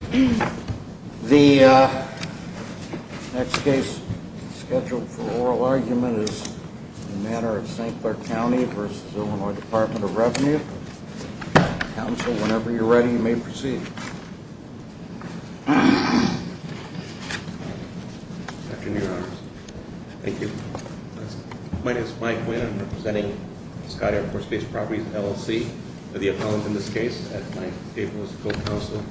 The next case scheduled for oral argument is In Matter of St. Clair Co. v. IL Dept. of Revenue. Counsel, whenever you're ready, you may proceed. Good afternoon, Your Honors. Thank you. My name is Mike Winn. I'm representing Scott Air Force Base Properties, LLC. The appellant in this case, at 9th April, is the Co-Counsel,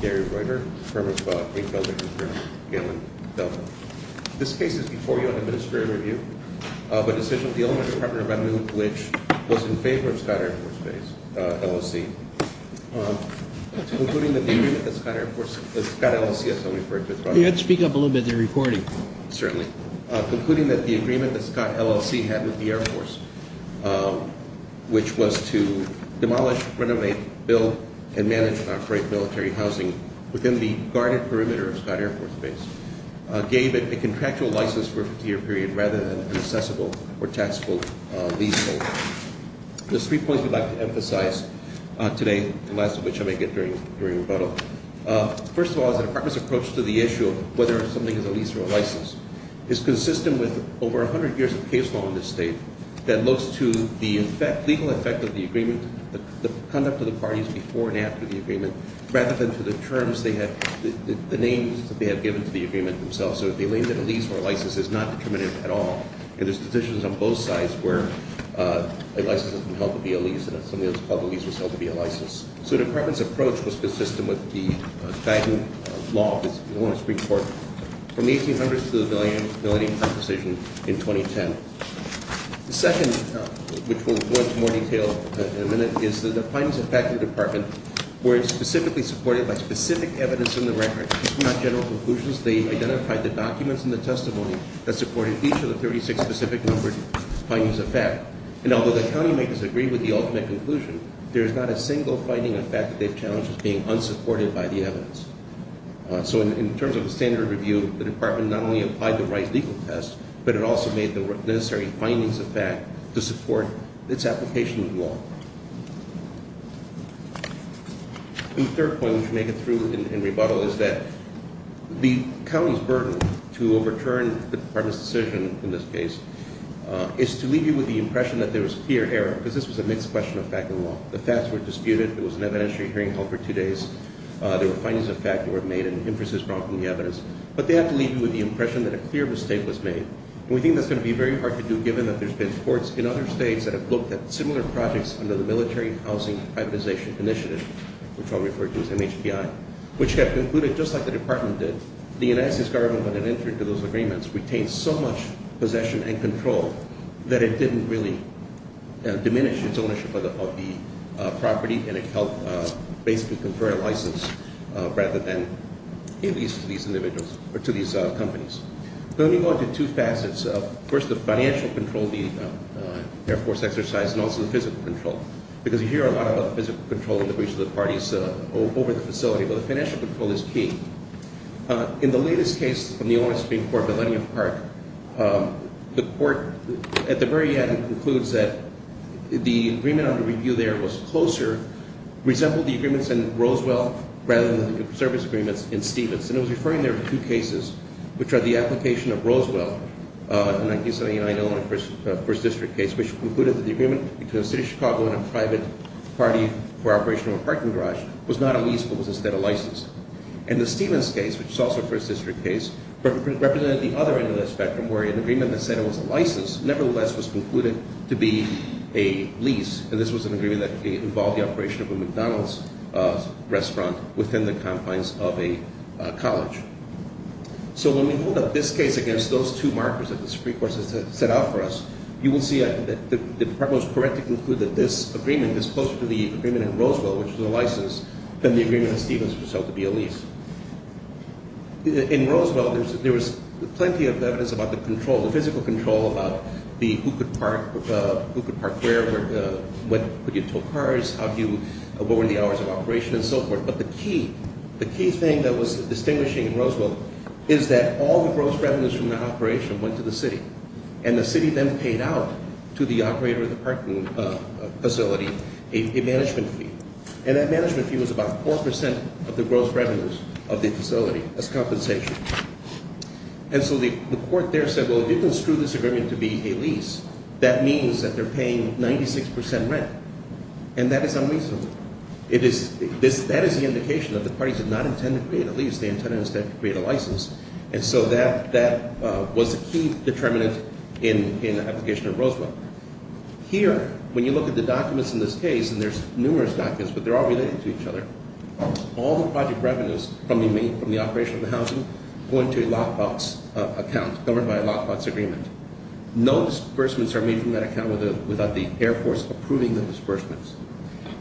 Gary Reuter, firm of Greenfield & Co. Galen Delta. This case is before you on administrative review, but decision of the Illinois Department of Revenue, which was in favor of Scott Air Force Base, LLC, concluding that the agreement that Scott Air Force, Scott LLC, as I'll refer to it, You have to speak up a little bit. They're recording. Certainly, concluding that the agreement that Scott LLC had with the Air Force, which was to demolish, renovate, build, and manage and operate military housing within the guarded perimeter of Scott Air Force Base, gave it a contractual license for a 50-year period rather than an accessible or taxable leasehold. There's three points we'd like to emphasize today, the last of which I may get during rebuttal. First of all, the Department's approach to the issue of whether or not something is a lease or a license is consistent with over 100 years of case law in this state that looks to the legal effect of the agreement, the conduct of the parties before and after the agreement, rather than to the terms they have, the names that they have given to the agreement themselves. So if they label it a lease or a license, it's not determinative at all. And there's decisions on both sides where a license isn't held to be a lease, and if something is called a lease, it's held to be a license. So the Department's approach was consistent with the Fadden Law, which is the law in the Supreme Court, from the 1800s to the Millennium Composition in 2010. The second, which we'll go into more detail in a minute, is that the findings of fact of the Department were specifically supported by specific evidence in the record, not general conclusions. They identified the documents and the testimony that supported each of the 36 specific numbered findings of fact. And although the county may disagree with the ultimate conclusion, there is not a single finding of fact that they've challenged as being unsupported by the evidence. So in terms of the standard review, the Department not only applied the right legal test, but it also made the necessary findings of fact to support its application in law. The third point, which we'll make it through in rebuttal, is that the county's burden to overturn the Department's decision in this case is to leave you with the impression that there was clear error, because this was a mixed question of fact and law. The facts were disputed, there was an evidentiary hearing held for two days, there were findings of fact that were made and inferences brought from the evidence, but they have to leave you with the impression that a clear mistake was made. And we think that's going to be very hard to do, given that there's been courts in other states that have looked at similar projects under the Military Housing Privatization Initiative, which I'll refer to as MHPI, which have concluded, just like the Department did, that the United States government, when it entered into those agreements, retained so much possession and control that it didn't really diminish its ownership of the property and it helped basically confer a license rather than, at least to these individuals, or to these companies. So let me go into two facets. First, the financial control, the Air Force exercise, and also the physical control, because you hear a lot about physical control in the breach of the parties over the facility, but the financial control is key. In the latest case from the Olin Supreme Court, Millennium Park, the court, at the very end, concludes that the agreement under review there was closer, resembled the agreements in Roswell rather than the service agreements in Stevenson. It was referring there to two cases, which are the application of Roswell, the 1979 Olin First District case, which concluded that the agreement between the city of Chicago and a private party for operation of a parking garage was not a lease but was instead a license. And the Stevens case, which is also a First District case, represented the other end of the spectrum, where an agreement that said it was a license, nevertheless, was concluded to be a lease, and this was an agreement that involved the operation of a McDonald's restaurant within the confines of a college. So when we hold up this case against those two markers that the Supreme Court has set out for us, you will see that the department was correct to conclude that this agreement, that it was closer to the agreement in Roswell, which was a license, than the agreement in Stevens, which was held to be a lease. In Roswell, there was plenty of evidence about the control, the physical control, about who could park, who could park where, where could you tow cars, what were the hours of operation, and so forth. But the key thing that was distinguishing in Roswell is that all the gross revenues from that operation went to the city, and the city then paid out to the operator of the parking facility a management fee. And that management fee was about 4% of the gross revenues of the facility as compensation. And so the court there said, well, it didn't screw this agreement to be a lease. That means that they're paying 96% rent, and that is unreasonable. That is the indication that the parties did not intend to create a lease. They intended instead to create a license. And so that was a key determinant in the application of Roswell. Here, when you look at the documents in this case, and there's numerous documents, but they're all related to each other, all the project revenues from the operation of the housing go into a lockbox account governed by a lockbox agreement. No disbursements are made from that account without the Air Force approving the disbursements.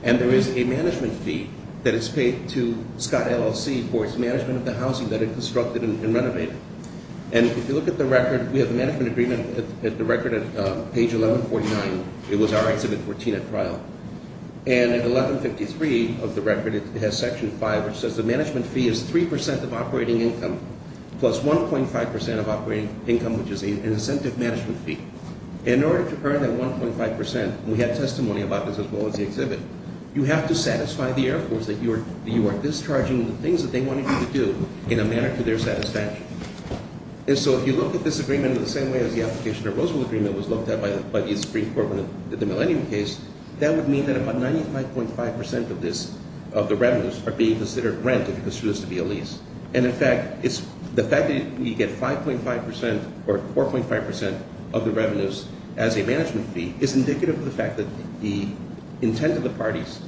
And there is a management fee that is paid to Scott LLC for its management of the housing that it constructed and renovated. And if you look at the record, we have the management agreement at the record at page 1149. It was our exhibit 14 at trial. And at 1153 of the record, it has section 5, which says the management fee is 3% of operating income plus 1.5% of operating income, which is an incentive management fee. In order to earn that 1.5%, and we had testimony about this as well as the exhibit, you have to satisfy the Air Force that you are discharging the things that they wanted you to do in a manner to their satisfaction. And so if you look at this agreement in the same way as the application of Roswell agreement was looked at by the Supreme Court in the Millennium case, that would mean that about 95.5% of the revenues are being considered rent if you consider this to be a lease. And in fact, the fact that you get 5.5% or 4.5% of the revenues as a management fee is indicative of the fact that the intent of the parties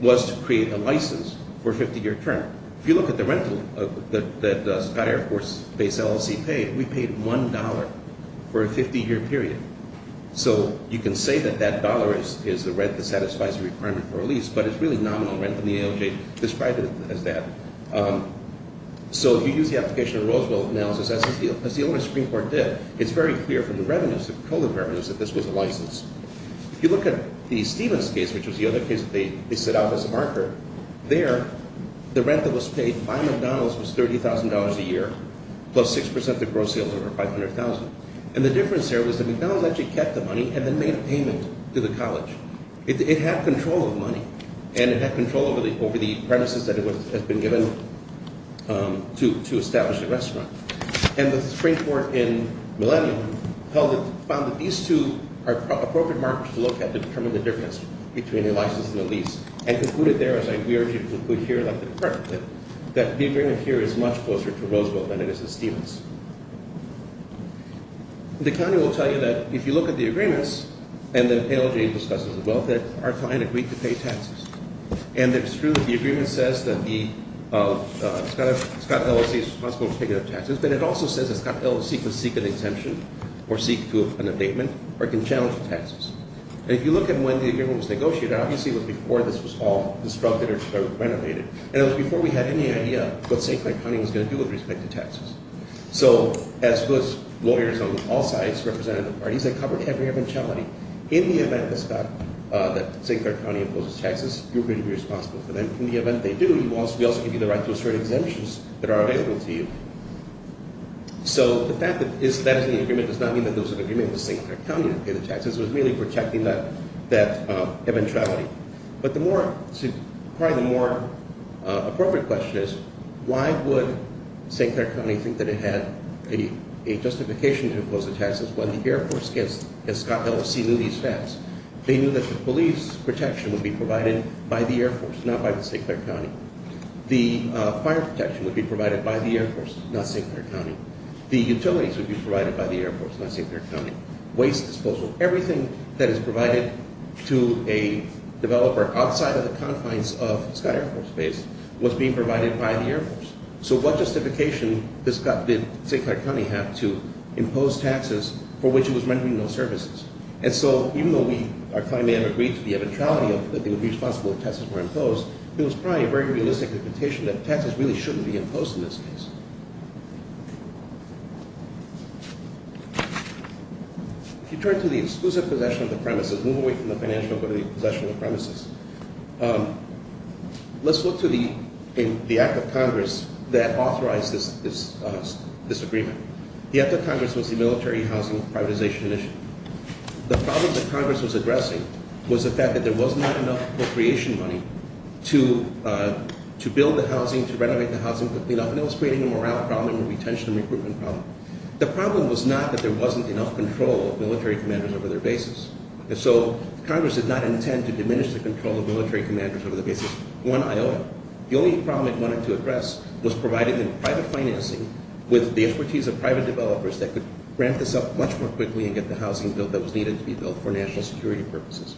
was to create a license for a 50-year term. If you look at the rental that Scott Air Force Base LLC paid, we paid $1 for a 50-year period. So you can say that that dollar is the rent that satisfies the requirement for a lease, but it's really nominal rent in the ALJ described as that. So if you use the application of Roswell analysis, as the Illinois Supreme Court did, it's very clear from the revenues that this was a license. If you look at the Stevens case, which was the other case that they set out as a marker, there the rent that was paid by McDonald's was $30,000 a year plus 6% of gross sales over $500,000. And the difference there was that McDonald's actually kept the money and then made a payment to the college. It had control of the money, and it had control over the premises that had been given to establish the restaurant. And the Supreme Court in Millennium found that these two are appropriate markers to look at to determine the difference between a license and a lease, and concluded there, as we argued here, that the agreement here is much closer to Roswell than it is to Stevens. The county will tell you that if you look at the agreements, and the ALJ discusses the welfare, our client agreed to pay taxes. And it's true that the agreement says that Scott LLC is responsible for taking up taxes, but it also says that Scott LLC can seek an exemption, or seek an abatement, or can challenge the taxes. And if you look at when the agreement was negotiated, obviously it was before this was all constructed or renovated. And it was before we had any idea what St. Clair County was going to do with respect to taxes. So, as was lawyers on all sides, representative parties, they covered every eventuality. In the event that Scott, that St. Clair County imposes taxes, you're going to be responsible for them. In the event they do, we also give you the right to assert exemptions that are available to you. So, the fact that that is in the agreement does not mean that those in agreement with St. Clair County don't pay the taxes. It was really protecting that eventuality. But the more, probably the more appropriate question is, why would St. Clair County think that it had a justification to impose the taxes when the Air Force, as Scott LLC knew these facts, they knew that the police protection would be provided by the Air Force, not by the St. Clair County. The fire protection would be provided by the Air Force, not St. Clair County. The utilities would be provided by the Air Force, not St. Clair County. Waste disposal, everything that is provided to a developer outside of the confines of Scott Air Force Base was being provided by the Air Force. So, what justification did St. Clair County have to impose taxes for which it was rendering no services? And so, even though our client may have agreed to the eventuality that they would be responsible if taxes were imposed, it was probably a very realistic imputation that taxes really shouldn't be imposed in this case. If you turn to the exclusive possession of the premises, move away from the financial ability of possession of the premises, let's look to the Act of Congress that authorized this agreement. The Act of Congress was the Military Housing Privatization Initiative. The problem that Congress was addressing was the fact that there was not enough appropriation money to build the housing, to renovate the housing, to clean up, and it was creating a morale problem, a retention and recruitment problem. The problem was not that there wasn't enough control of military commanders over their bases. And so, Congress did not intend to diminish the control of military commanders over the bases. One, Iowa. The only problem it wanted to address was providing them private financing with the expertise of private developers that could ramp this up much more quickly and get the housing built that was needed to be built for national security purposes.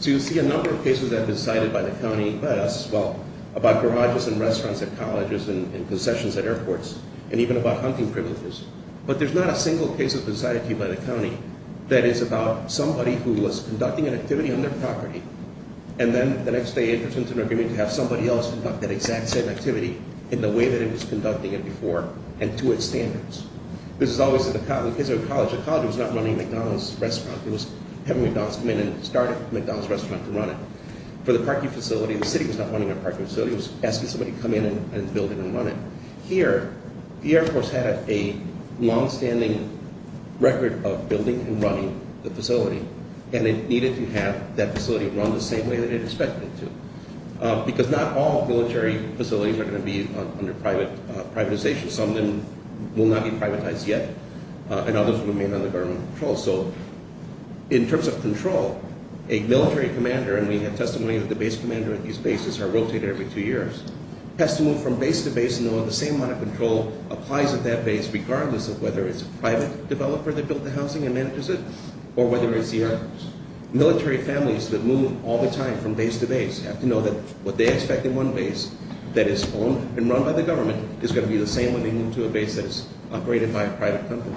So, you'll see a number of cases that have been cited by the county, by us as well, about garages and restaurants at colleges and concessions at airports, and even about hunting privileges. But there's not a single case that's been cited to you by the county that is about somebody who was conducting an activity on their property, and then the next day enters into an agreement to have somebody else conduct that exact same activity in the way that it was conducting it before and to its standards. This is always in the case of a college. A college was not running a McDonald's restaurant. It was having McDonald's come in and start a McDonald's restaurant to run it. For the parking facility, the city was not running a parking facility. It was asking somebody to come in and build it and run it. Here, the Air Force had a longstanding record of building and running the facility, and it needed to have that facility run the same way that it expected it to. Because not all military facilities are going to be under privatization. Some of them will not be privatized yet, and others will remain under government control. So, in terms of control, a military commander, and we have testimony that the base commander at these bases are rotated every two years, has to move from base to base and know the same amount of control applies at that base regardless of whether it's a private developer that built the housing and manages it or whether it's the Air Force. Military families that move all the time from base to base have to know that what they expect in one base that is owned and run by the government is going to be the same when they move to a base that is operated by a private company.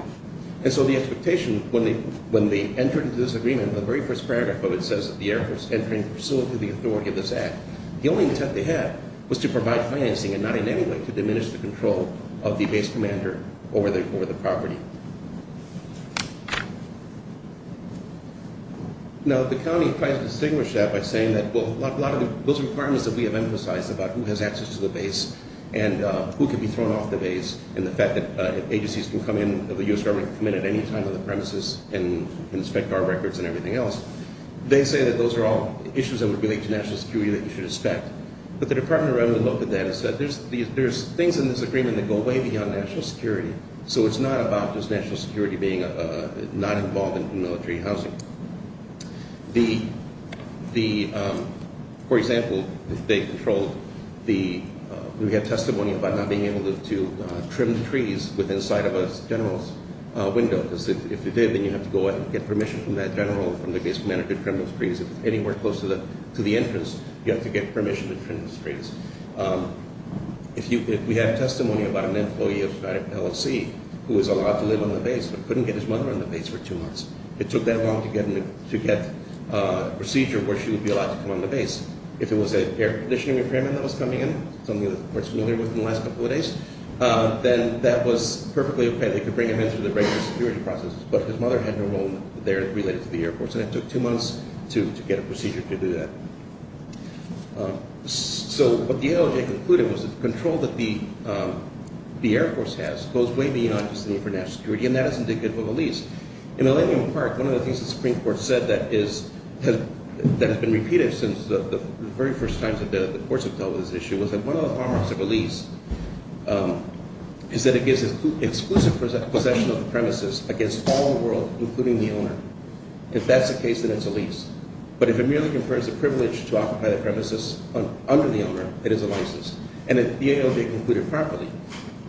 And so the expectation, when they enter into this agreement, the very first paragraph of it says the Air Force entering the facility to the authority of this act. The only intent they had was to provide financing and not in any way to diminish the control of the base commander over the property. Now, the county tries to distinguish that by saying that, well, a lot of those requirements that we have emphasized about who has access to the base and who can be thrown off the base and the fact that agencies can come in, the U.S. government can come in at any time to the premises and inspect our records and everything else, they say that those are all issues that would relate to national security that you should expect. But the Department of Revenue looked at that and said there's things in this agreement that go way beyond national security, so it's not about this national security being not involved in military housing. The, for example, they controlled the, we have testimony about not being able to trim the trees within sight of a general's window because if they did, then you have to go out and get permission from that general or from the base commander to trim those trees. If it's anywhere close to the entrance, you have to get permission to trim the trees. If you, if we have testimony about an employee of LFC who was allowed to live on the base but couldn't get his mother on the base for two months, it took that long to get a procedure where she would be allowed to come on the base. If it was an air conditioning requirement that was coming in, something that we're familiar with in the last couple of days, then that was perfectly okay. They could bring him in through the regular security process, but his mother had no role there related to the Air Force, and it took two months to get a procedure to do that. So what the ALJ concluded was the control that the Air Force has goes way beyond just the need for national security, and that is indicative of a lease. In Millennium Park, one of the things the Supreme Court said that is, that has been repeated since the very first times that the courts have dealt with this issue was that one of the exclusive possession of the premises against all the world, including the owner. If that's the case, then it's a lease. But if it merely confers the privilege to occupy the premises under the owner, it is a license. And the ALJ concluded properly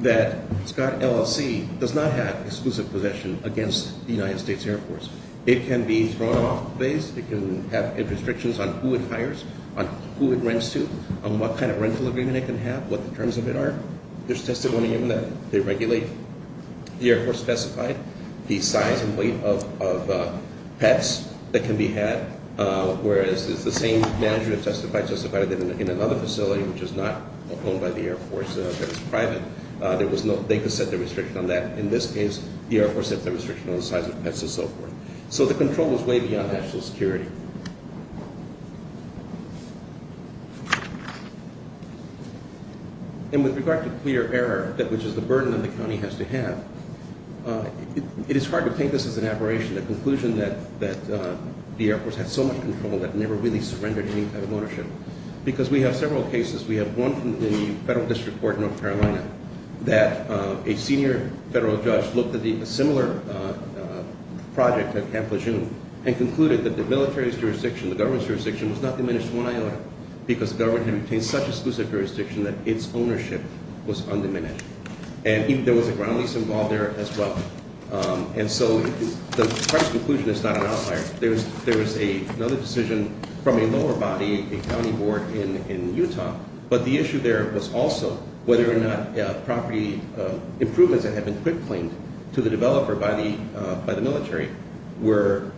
that Scott LLC does not have exclusive possession against the United States Air Force. It can be thrown off the base. It can have restrictions on who it hires, on who it rents to, on what kind of rental agreement it can have, what the terms of it are. There's testimony given that they regulate the Air Force specified, the size and weight of pets that can be had, whereas it's the same manager that testified in another facility, which is not owned by the Air Force, that is private. They could set their restriction on that. In this case, the Air Force set their restriction on the size of pets and so forth. So the control is way beyond national security. And with regard to clear error, which is the burden that the county has to have, it is hard to take this as an aberration, the conclusion that the Air Force had so much control that it never really surrendered any type of ownership. Because we have several cases. We have one in the federal district court in North Carolina that a senior federal judge looked at a similar project at Camp Lejeune and concluded that the military jurisdiction, the government's jurisdiction, was not diminished one iota because the government had obtained such exclusive jurisdiction that its ownership was undiminished. And there was a ground lease involved there as well. And so the price conclusion is not an outlier. There was another decision from a lower body, a county board in Utah. But the issue there was also whether or not property improvements that had been quick claimed to the developer by the military were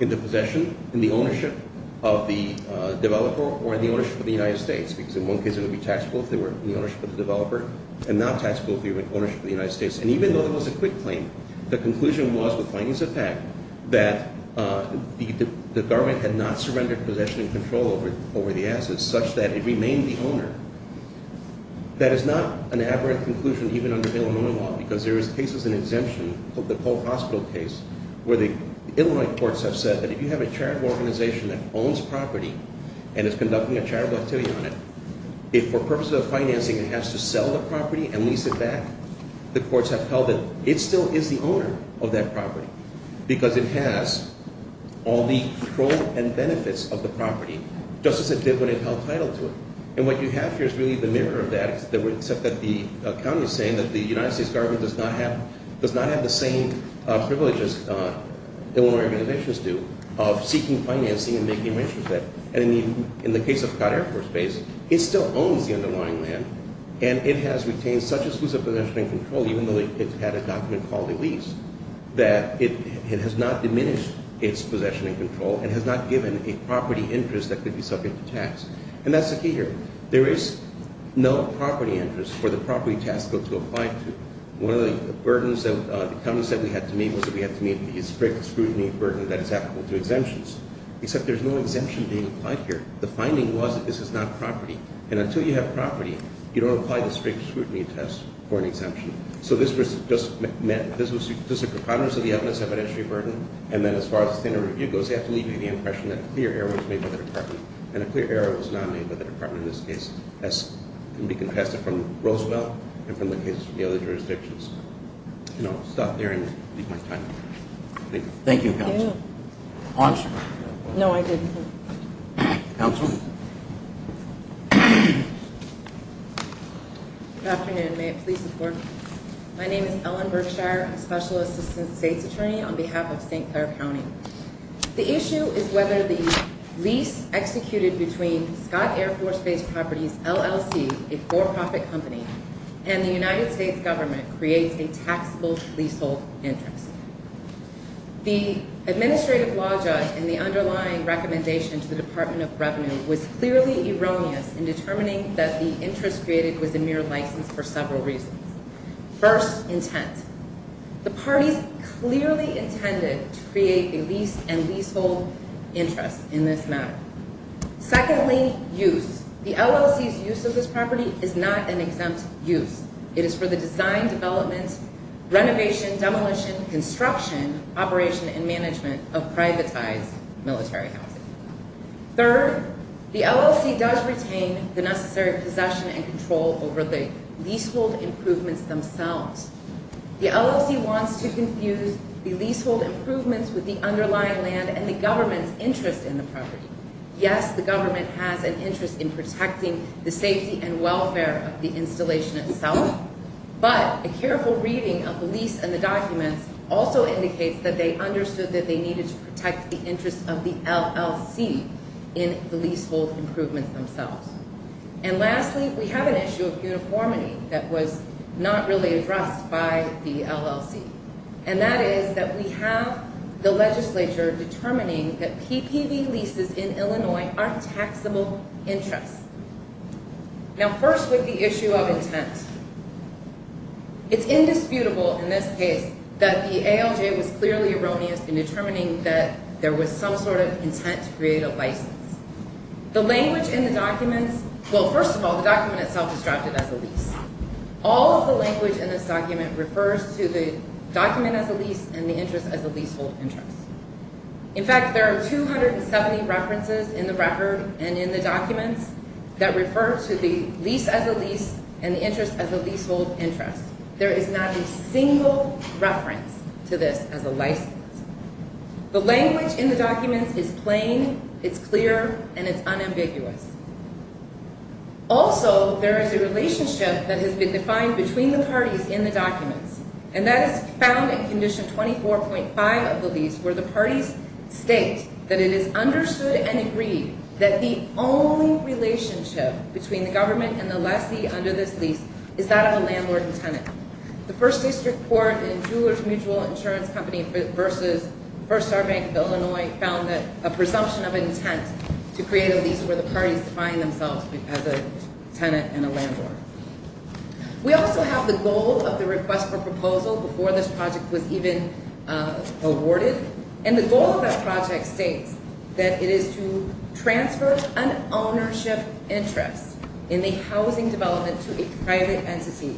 in the possession, in the ownership of the developer or in the ownership of the United States. Because in one case it would be taxable if they were in the ownership of the developer and not taxable if they were in ownership of the United States. And even though there was a quick claim, the conclusion was with findings of fact that the government had not surrendered possession and control over the assets such that it remained the owner. That is not an aberrant conclusion even under Illinois law because there is cases in exemption called the Cold Hospital case where the Illinois courts have said that if you have a charitable organization that owns property and is conducting a charitable activity on it, if for purposes of financing it has to sell the property and lease it back, the courts have held that it still is the owner of that property because it has all the control and benefits of the property just as it did when it held title to it. And what you have here is really the mirror of that except that the county is saying that the United States government does not have the same privileges Illinois organizations do of seeking financing and making arrangements for that. And in the case of Cott Air Force Base, it still owns the underlying land and it has retained such exclusive possession and control, even though it had a document called a lease, that it has not diminished its possession and control and has not given a property interest that could be subject to tax. And that's the key here. There is no property interest for the property tax bill to apply to. One of the burdens that the county said we had to meet was that we had to meet the strict scrutiny burden that is applicable to exemptions, except there's no exemption being applied here. The finding was that this is not property. And until you have property, you don't apply the strict scrutiny test for an exemption. So this was just a preponderance of the evidence evidentiary burden, and then as far as the standard review goes, they have to leave you the impression that a clear error was made by the department and a clear error was not made by the department. In this case, that can be contested from Roosevelt and from the cases from the other jurisdictions. I'll stop there and leave my time. Thank you. Thank you, counsel. Oh, I'm sorry. No, I didn't. Counsel? Good afternoon. May it please the Court. My name is Ellen Berkshire, I'm a Special Assistant State's Attorney on behalf of St. Clair County. The issue is whether the lease executed between Scott Air Force Base Properties, LLC, a for-profit company, and the United States government creates a taxable leasehold interest. The administrative law judge in the underlying recommendation to the Department of Revenue was clearly erroneous in determining that the interest created was a mere license for several reasons. First, intent. The parties clearly intended to create a lease and leasehold interest in this matter. Secondly, use. The LLC's use of this property is not an exempt use. It is for the design, development, renovation, demolition, construction, operation, and management of privatized military housing. Third, the LLC does retain the necessary possession and control over the leasehold improvements themselves. The LLC wants to confuse the leasehold improvements with the underlying land and the government's interest in the property. Yes, the government has an interest in protecting the safety and welfare of the installation itself, but a careful reading of the lease and the documents also indicates that they understood that they needed to protect the interest of the LLC in the leasehold improvements themselves. And lastly, we have an issue of uniformity that was not really addressed by the LLC, and that is that we have the legislature determining that PPV leases in Illinois are taxable interests. Now, first with the issue of intent. It's indisputable in this case that the ALJ was clearly erroneous in determining that there was some sort of intent to create a license. The language in the documents, well, first of all, the document itself is drafted as a lease. All of the language in this document refers to the document as a lease and the interest as a leasehold interest. In fact, there are 270 references in the record and in the documents that refer to the lease as a lease and the interest as a leasehold interest. There is not a single reference to this as a license. The language in the documents is plain, it's clear, and it's unambiguous. Also, there is a relationship that has been defined between the parties in the documents, and that is found in Condition 24.5 of the lease where the parties state that it is understood and agreed that the only relationship between the government and the lessee under this lease is that of a landlord and tenant. The First District Court in Jewelers Mutual Insurance Company v. First Star Bank of Illinois found that a presumption of intent to create a lease where the parties define themselves as a tenant and a landlord. We also have the goal of the request for proposal before this project was even awarded, and the goal of that project states that it is to transfer an ownership interest in the housing development to a private entity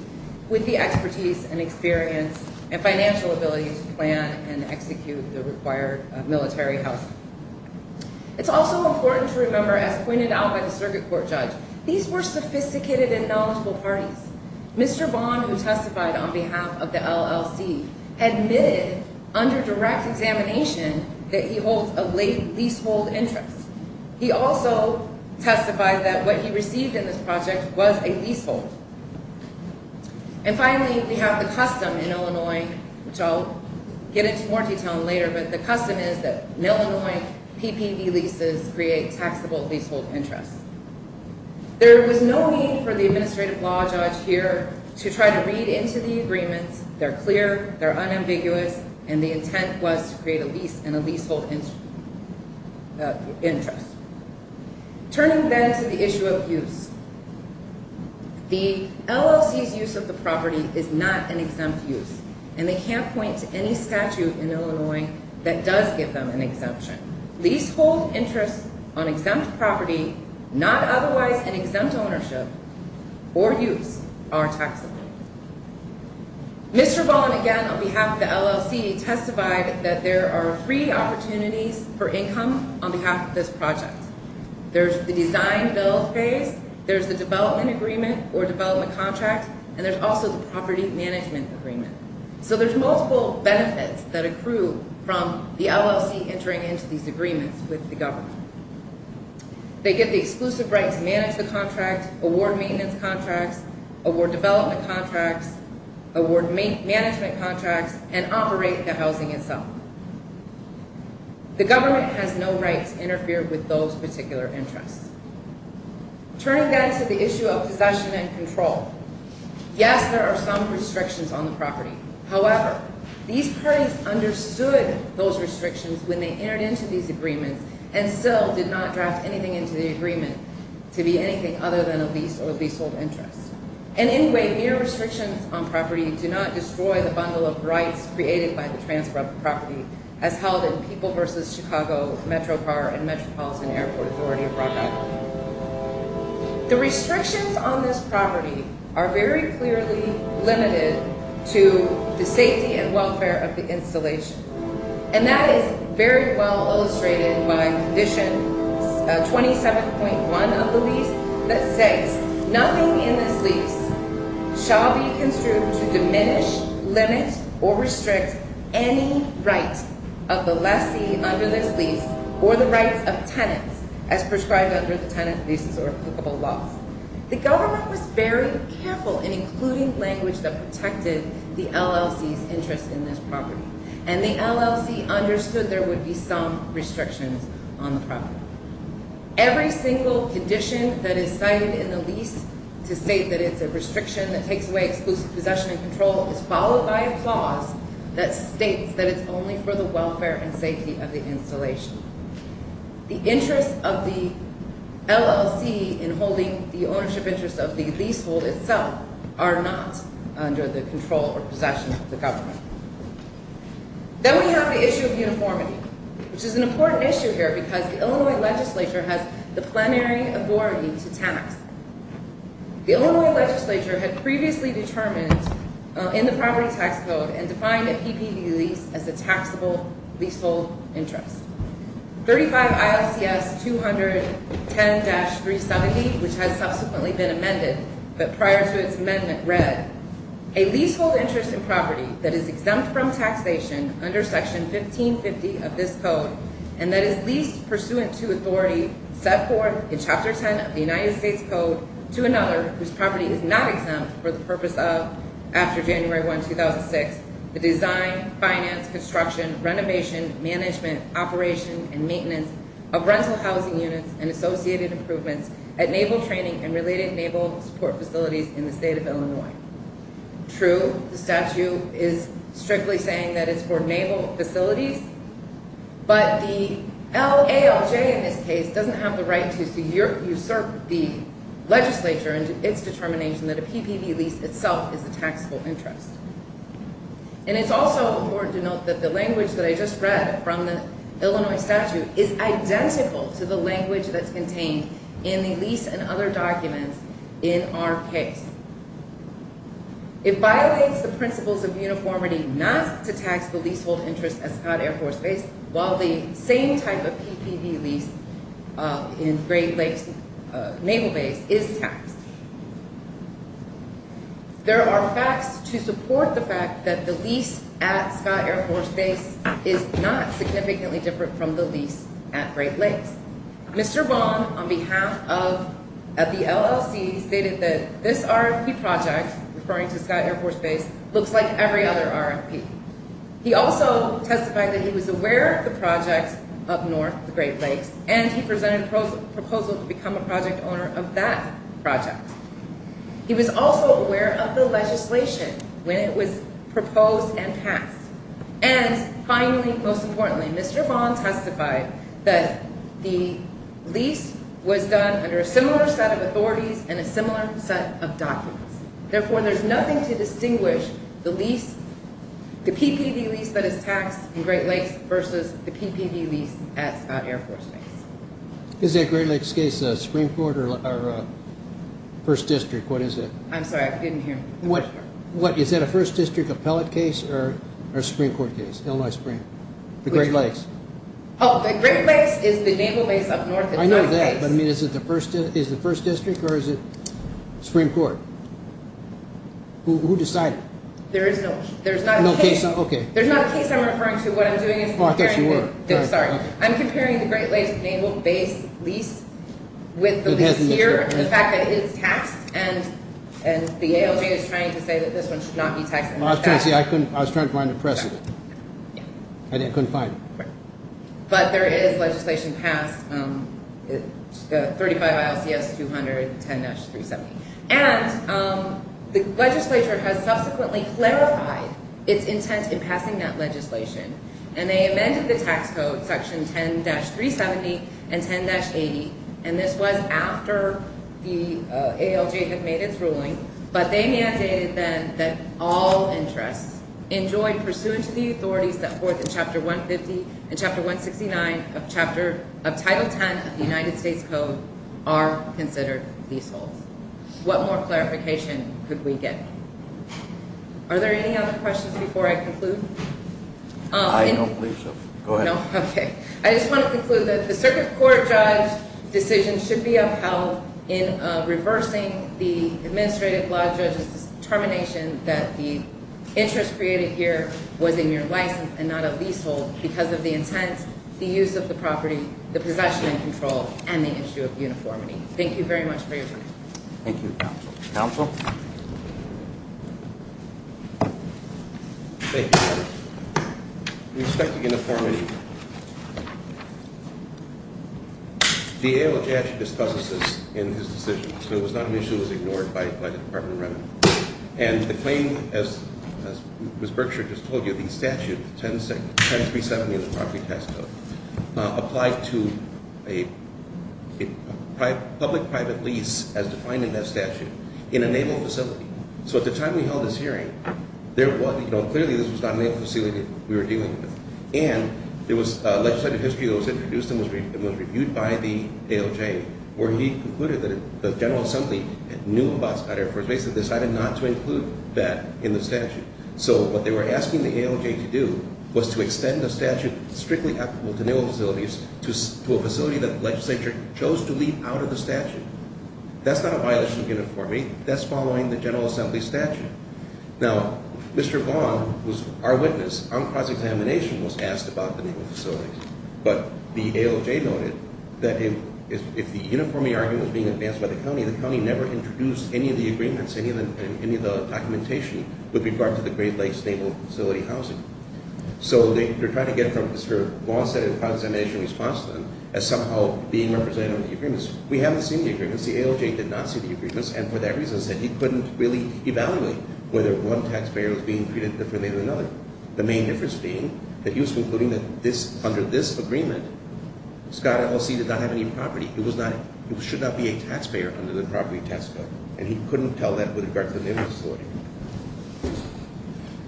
with the expertise and experience and financial ability to plan and execute the required military housing. It's also important to remember, as pointed out by the circuit court judge, these were sophisticated and knowledgeable parties. Mr. Bond, who testified on behalf of the LLC, admitted under direct examination that he holds a leasehold interest. He also testified that what he received in this project was a leasehold. And finally, we have the custom in Illinois, which I'll get into more detail later, but the custom is that in Illinois, PPV leases create taxable leasehold interests. There was no need for the administrative law judge here to try to read into the agreements. They're clear, they're unambiguous, and the intent was to create a lease and a leasehold interest. Turning then to the issue of use, the LLC's use of the property is not an exempt use, and they can't point to any statute in Illinois that does give them an exemption. Leasehold interests on exempt property not otherwise in exempt ownership or use are taxable. Mr. Bond, again on behalf of the LLC, testified that there are three opportunities for income on behalf of this project. There's the design-build phase, there's the development agreement or development contract, and there's also the property management agreement. So there's multiple benefits that accrue from the LLC entering into these agreements with the government. They get the exclusive right to manage the contract, award maintenance contracts, award development contracts, award management contracts, and operate the housing itself. The government has no right to interfere with those particular interests. Turning then to the issue of possession and control, yes, there are some restrictions on the property. However, these parties understood those restrictions when they entered into these agreements and still did not draft anything into the agreement to be anything other than a lease or leasehold interest. And anyway, mere restrictions on property do not destroy the bundle of rights created by the transfer of the property as held in People v. Chicago, MetroPAR, and Metropolitan Airport Authority of Rock Island. The restrictions on this property are very clearly limited to the safety and welfare of the installation. And that is very well illustrated by Condition 27.1 of the lease that states, Nothing in this lease shall be construed to diminish, limit, or restrict any right of the lessee under this lease or the rights of tenants as prescribed under the tenant leases or applicable laws. The government was very careful in including language that protected the LLC's interest in this property. And the LLC understood there would be some restrictions on the property. Every single condition that is cited in the lease to state that it's a restriction that takes away exclusive possession and control is followed by a clause that states that it's only for the welfare and safety of the installation. The interests of the LLC in holding the ownership interest of the leasehold itself are not under the control or possession of the government. Then we have the issue of uniformity, which is an important issue here because the Illinois legislature has the plenary authority to tax. The Illinois legislature had previously determined in the property tax code and defined a PPV lease as a taxable leasehold interest. 35 ILCS 210-370, which has subsequently been amended, but prior to its amendment read, a leasehold interest in property that is exempt from taxation under Section 1550 of this code and that is leased pursuant to authority set forth in Chapter 10 of the United States Code to another whose property is not exempt for the purpose of, after January 1, 2006, the design, finance, construction, renovation, management, operation, and maintenance of rental housing units and associated improvements at naval training and related naval support facilities in the state of Illinois. True, the statute is strictly saying that it's for naval facilities, but the ALJ in this case doesn't have the right to usurp the legislature into its determination that a PPV lease itself is a taxable interest. And it's also important to note that the language that I just read from the Illinois statute is identical to the language that's contained in the lease and other documents in our case. It violates the principles of uniformity not to tax the leasehold interest at Scott Air Force Base while the same type of PPV lease in Great Lakes Naval Base is taxed. There are facts to support the fact that the lease at Scott Air Force Base is not significantly different from the lease at Great Lakes. Mr. Vaughn, on behalf of the LLC, stated that this RFP project, referring to Scott Air Force Base, looks like every other RFP. He also testified that he was aware of the project up north, the Great Lakes, and he presented a proposal to become a project owner of that project. He was also aware of the legislation when it was proposed and passed. And finally, most importantly, Mr. Vaughn testified that the lease was done under a similar set of authorities and a similar set of documents. Therefore, there's nothing to distinguish the PPV lease that is taxed in Great Lakes versus the PPV lease at Scott Air Force Base. Is that Great Lakes case a Supreme Court or First District? What is it? I'm sorry. I didn't hear the question. What? Is that a First District appellate case or a Supreme Court case, Illinois Supreme? The Great Lakes. Oh, the Great Lakes is the Naval Base up north. I know that, but is it the First District or is it Supreme Court? Who decided? There is no case. There's not a case I'm referring to. Oh, I thought you were. I'm comparing the Great Lakes Naval Base lease with the lease here, the fact that it is taxed, and the ALG is trying to say that this one should not be taxed. I was trying to find a precedent. I couldn't find it. But there is legislation passed, 35 ILCS 200, 10-370, and the legislature has subsequently clarified its intent in passing that legislation, and they amended the tax code, Section 10-370 and 10-80, and this was after the ALG had made its ruling, but they mandated then that all interests enjoyed pursuant to the authorities set forth in Chapter 150 and Chapter 169 of Title 10 of the United States Code are considered leaseholds. What more clarification could we get? Are there any other questions before I conclude? I don't believe so. Go ahead. No? Okay. I just want to conclude that the Circuit Court judge's decision should be upheld in reversing the administrative law judge's determination that the interest created here was a mere license and not a leasehold because of the intent, the use of the property, the possession and control, and the issue of uniformity. Thank you very much for your time. Thank you, counsel. Counsel? Thank you, Madam. Respect to uniformity. The ALJ actually discusses this in his decision, so it was not an issue that was ignored by the Department of Revenue. And the claim, as Ms. Berkshire just told you, the statute, 10-370 of the Property Tax Code, applied to a public-private lease, as defined in that statute, in a naval facility. So at the time we held this hearing, there was, you know, clearly this was not a naval facility we were dealing with, and there was legislative history that was introduced and was reviewed by the ALJ, where he concluded that the General Assembly knew about it, but basically decided not to include that in the statute. So what they were asking the ALJ to do was to extend the statute strictly applicable to naval facilities to a facility that the legislature chose to leave out of the statute. That's not a violation of uniformity. That's following the General Assembly statute. Now, Mr. Vaughn, who's our witness on cross-examination, was asked about the naval facility, but the ALJ noted that if the uniformity argument was being advanced by the county, the county never introduced any of the agreements, any of the documentation, with regard to the Great Lakes Naval Facility housing. So they're trying to get from Mr. Vaughn's set of cross-examination responses as somehow being represented on the agreements. We haven't seen the agreements. The ALJ did not see the agreements, and for that reason said he couldn't really evaluate whether one taxpayer was being treated differently than another. The main difference being that he was concluding that under this agreement, Scott LLC did not have any property. It should not be a taxpayer under the property tax code, and he couldn't tell that with regard to the naval facility.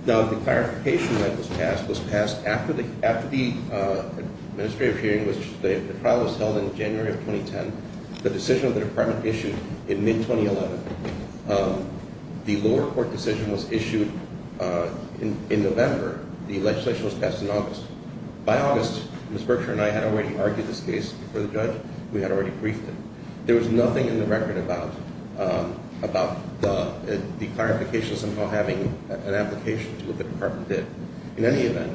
Now, the clarification that was passed was passed after the administrative hearing, which the trial was held in January of 2010. The decision of the department issued in mid-2011. The lower court decision was issued in November. The legislation was passed in August. By August, Ms. Berkshire and I had already argued this case before the judge. We had already briefed him. There was nothing in the record about the clarifications of not having an application to what the department did. In any event,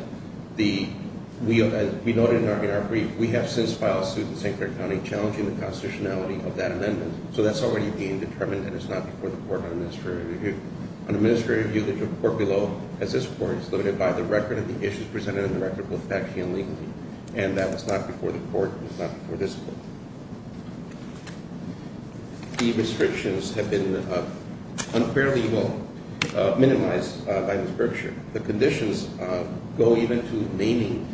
we noted in our brief, we have since filed a suit in St. Clair County challenging the constitutionality of that amendment. So that's already being determined, and it's not before the court on administrative review. On administrative review, the court below, as this court, is limited by the record of the issues presented in the record both factually and legally, and that was not before the court, and it's not before this court. The restrictions have been unfairly minimized by Ms. Berkshire. The conditions go even to naming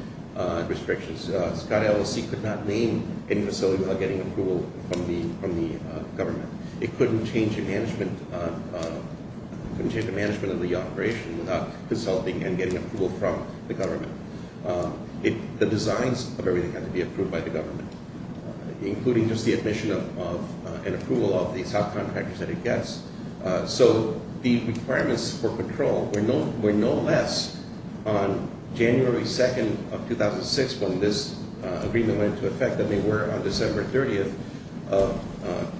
restrictions. Scott LLC could not name any facility without getting approval from the government. It couldn't change the management of the operation without consulting and getting approval from the government. The designs of everything had to be approved by the government, including just the admission and approval of the subcontractors that it gets. So the requirements for control were no less on January 2nd of 2006 when this agreement went into effect than they were on December 30th of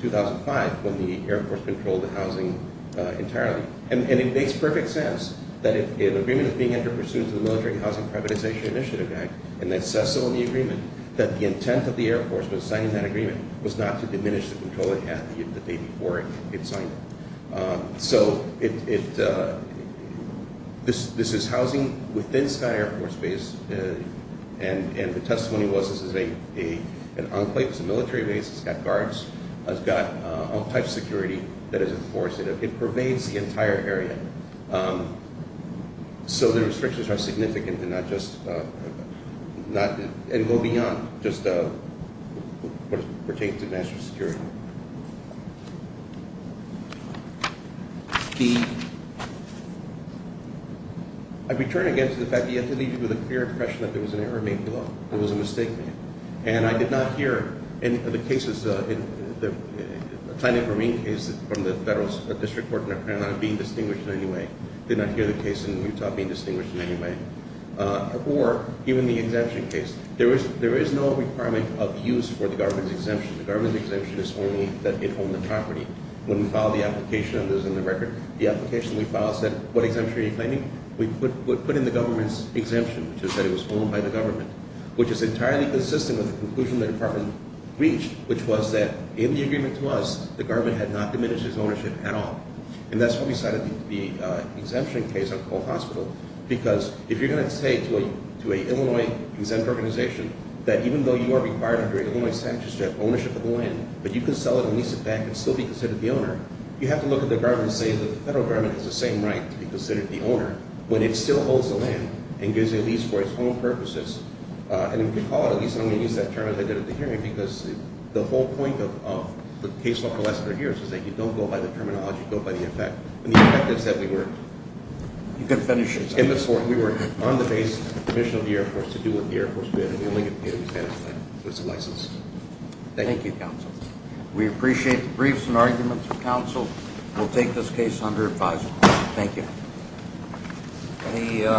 2005 when the Air Force controlled the housing entirely. And it makes perfect sense that if an agreement is being entered pursuant to the Military Housing Privatization Initiative Act, and it says so in the agreement, that the intent of the Air Force when signing that agreement was not to diminish the control at the date before it signed it. So this is housing within Scott Air Force Base, and the testimony was this is an enclave. It's a military base. It's got guards. It's got all types of security that is enforced. It pervades the entire area. So the restrictions are significant and go beyond just what pertains to national security. The – I return again to the fact that you had to leave it with a clear impression that there was an error made below. There was a mistake made. And I did not hear any of the cases – the Tynan-Vermeen case from the federal district court not being distinguished in any way. Did not hear the case in Utah being distinguished in any way. Or even the exemption case. There is no requirement of use for the government's exemption. The government's exemption is only that it owned the property. When we filed the application, and this is in the record, the application we filed said what exemption are you claiming? We put in the government's exemption, which is that it was owned by the government, which is entirely consistent with the conclusion the department reached, which was that in the agreement to us, the government had not diminished its ownership at all. And that's why we cited the exemption case on Cole Hospital, because if you're going to say to an Illinois-exempt organization that you can sell it and lease it back and still be considered the owner, you have to look at the government and say that the federal government has the same right to be considered the owner when it still holds the land and gives a lease for its own purposes. And we can call it a lease, and I'm going to use that term as I did at the hearing, because the whole point of the case law for the last three years is that you don't go by the terminology, you go by the effect. And the effect is that we were – You can finish it. We were on the base of the commission of the Air Force to do what the Air Force did, and we only get paid if we pass the license. Thank you. Thank you, counsel. We appreciate the briefs and arguments of counsel. We'll take this case under advisory. Thank you.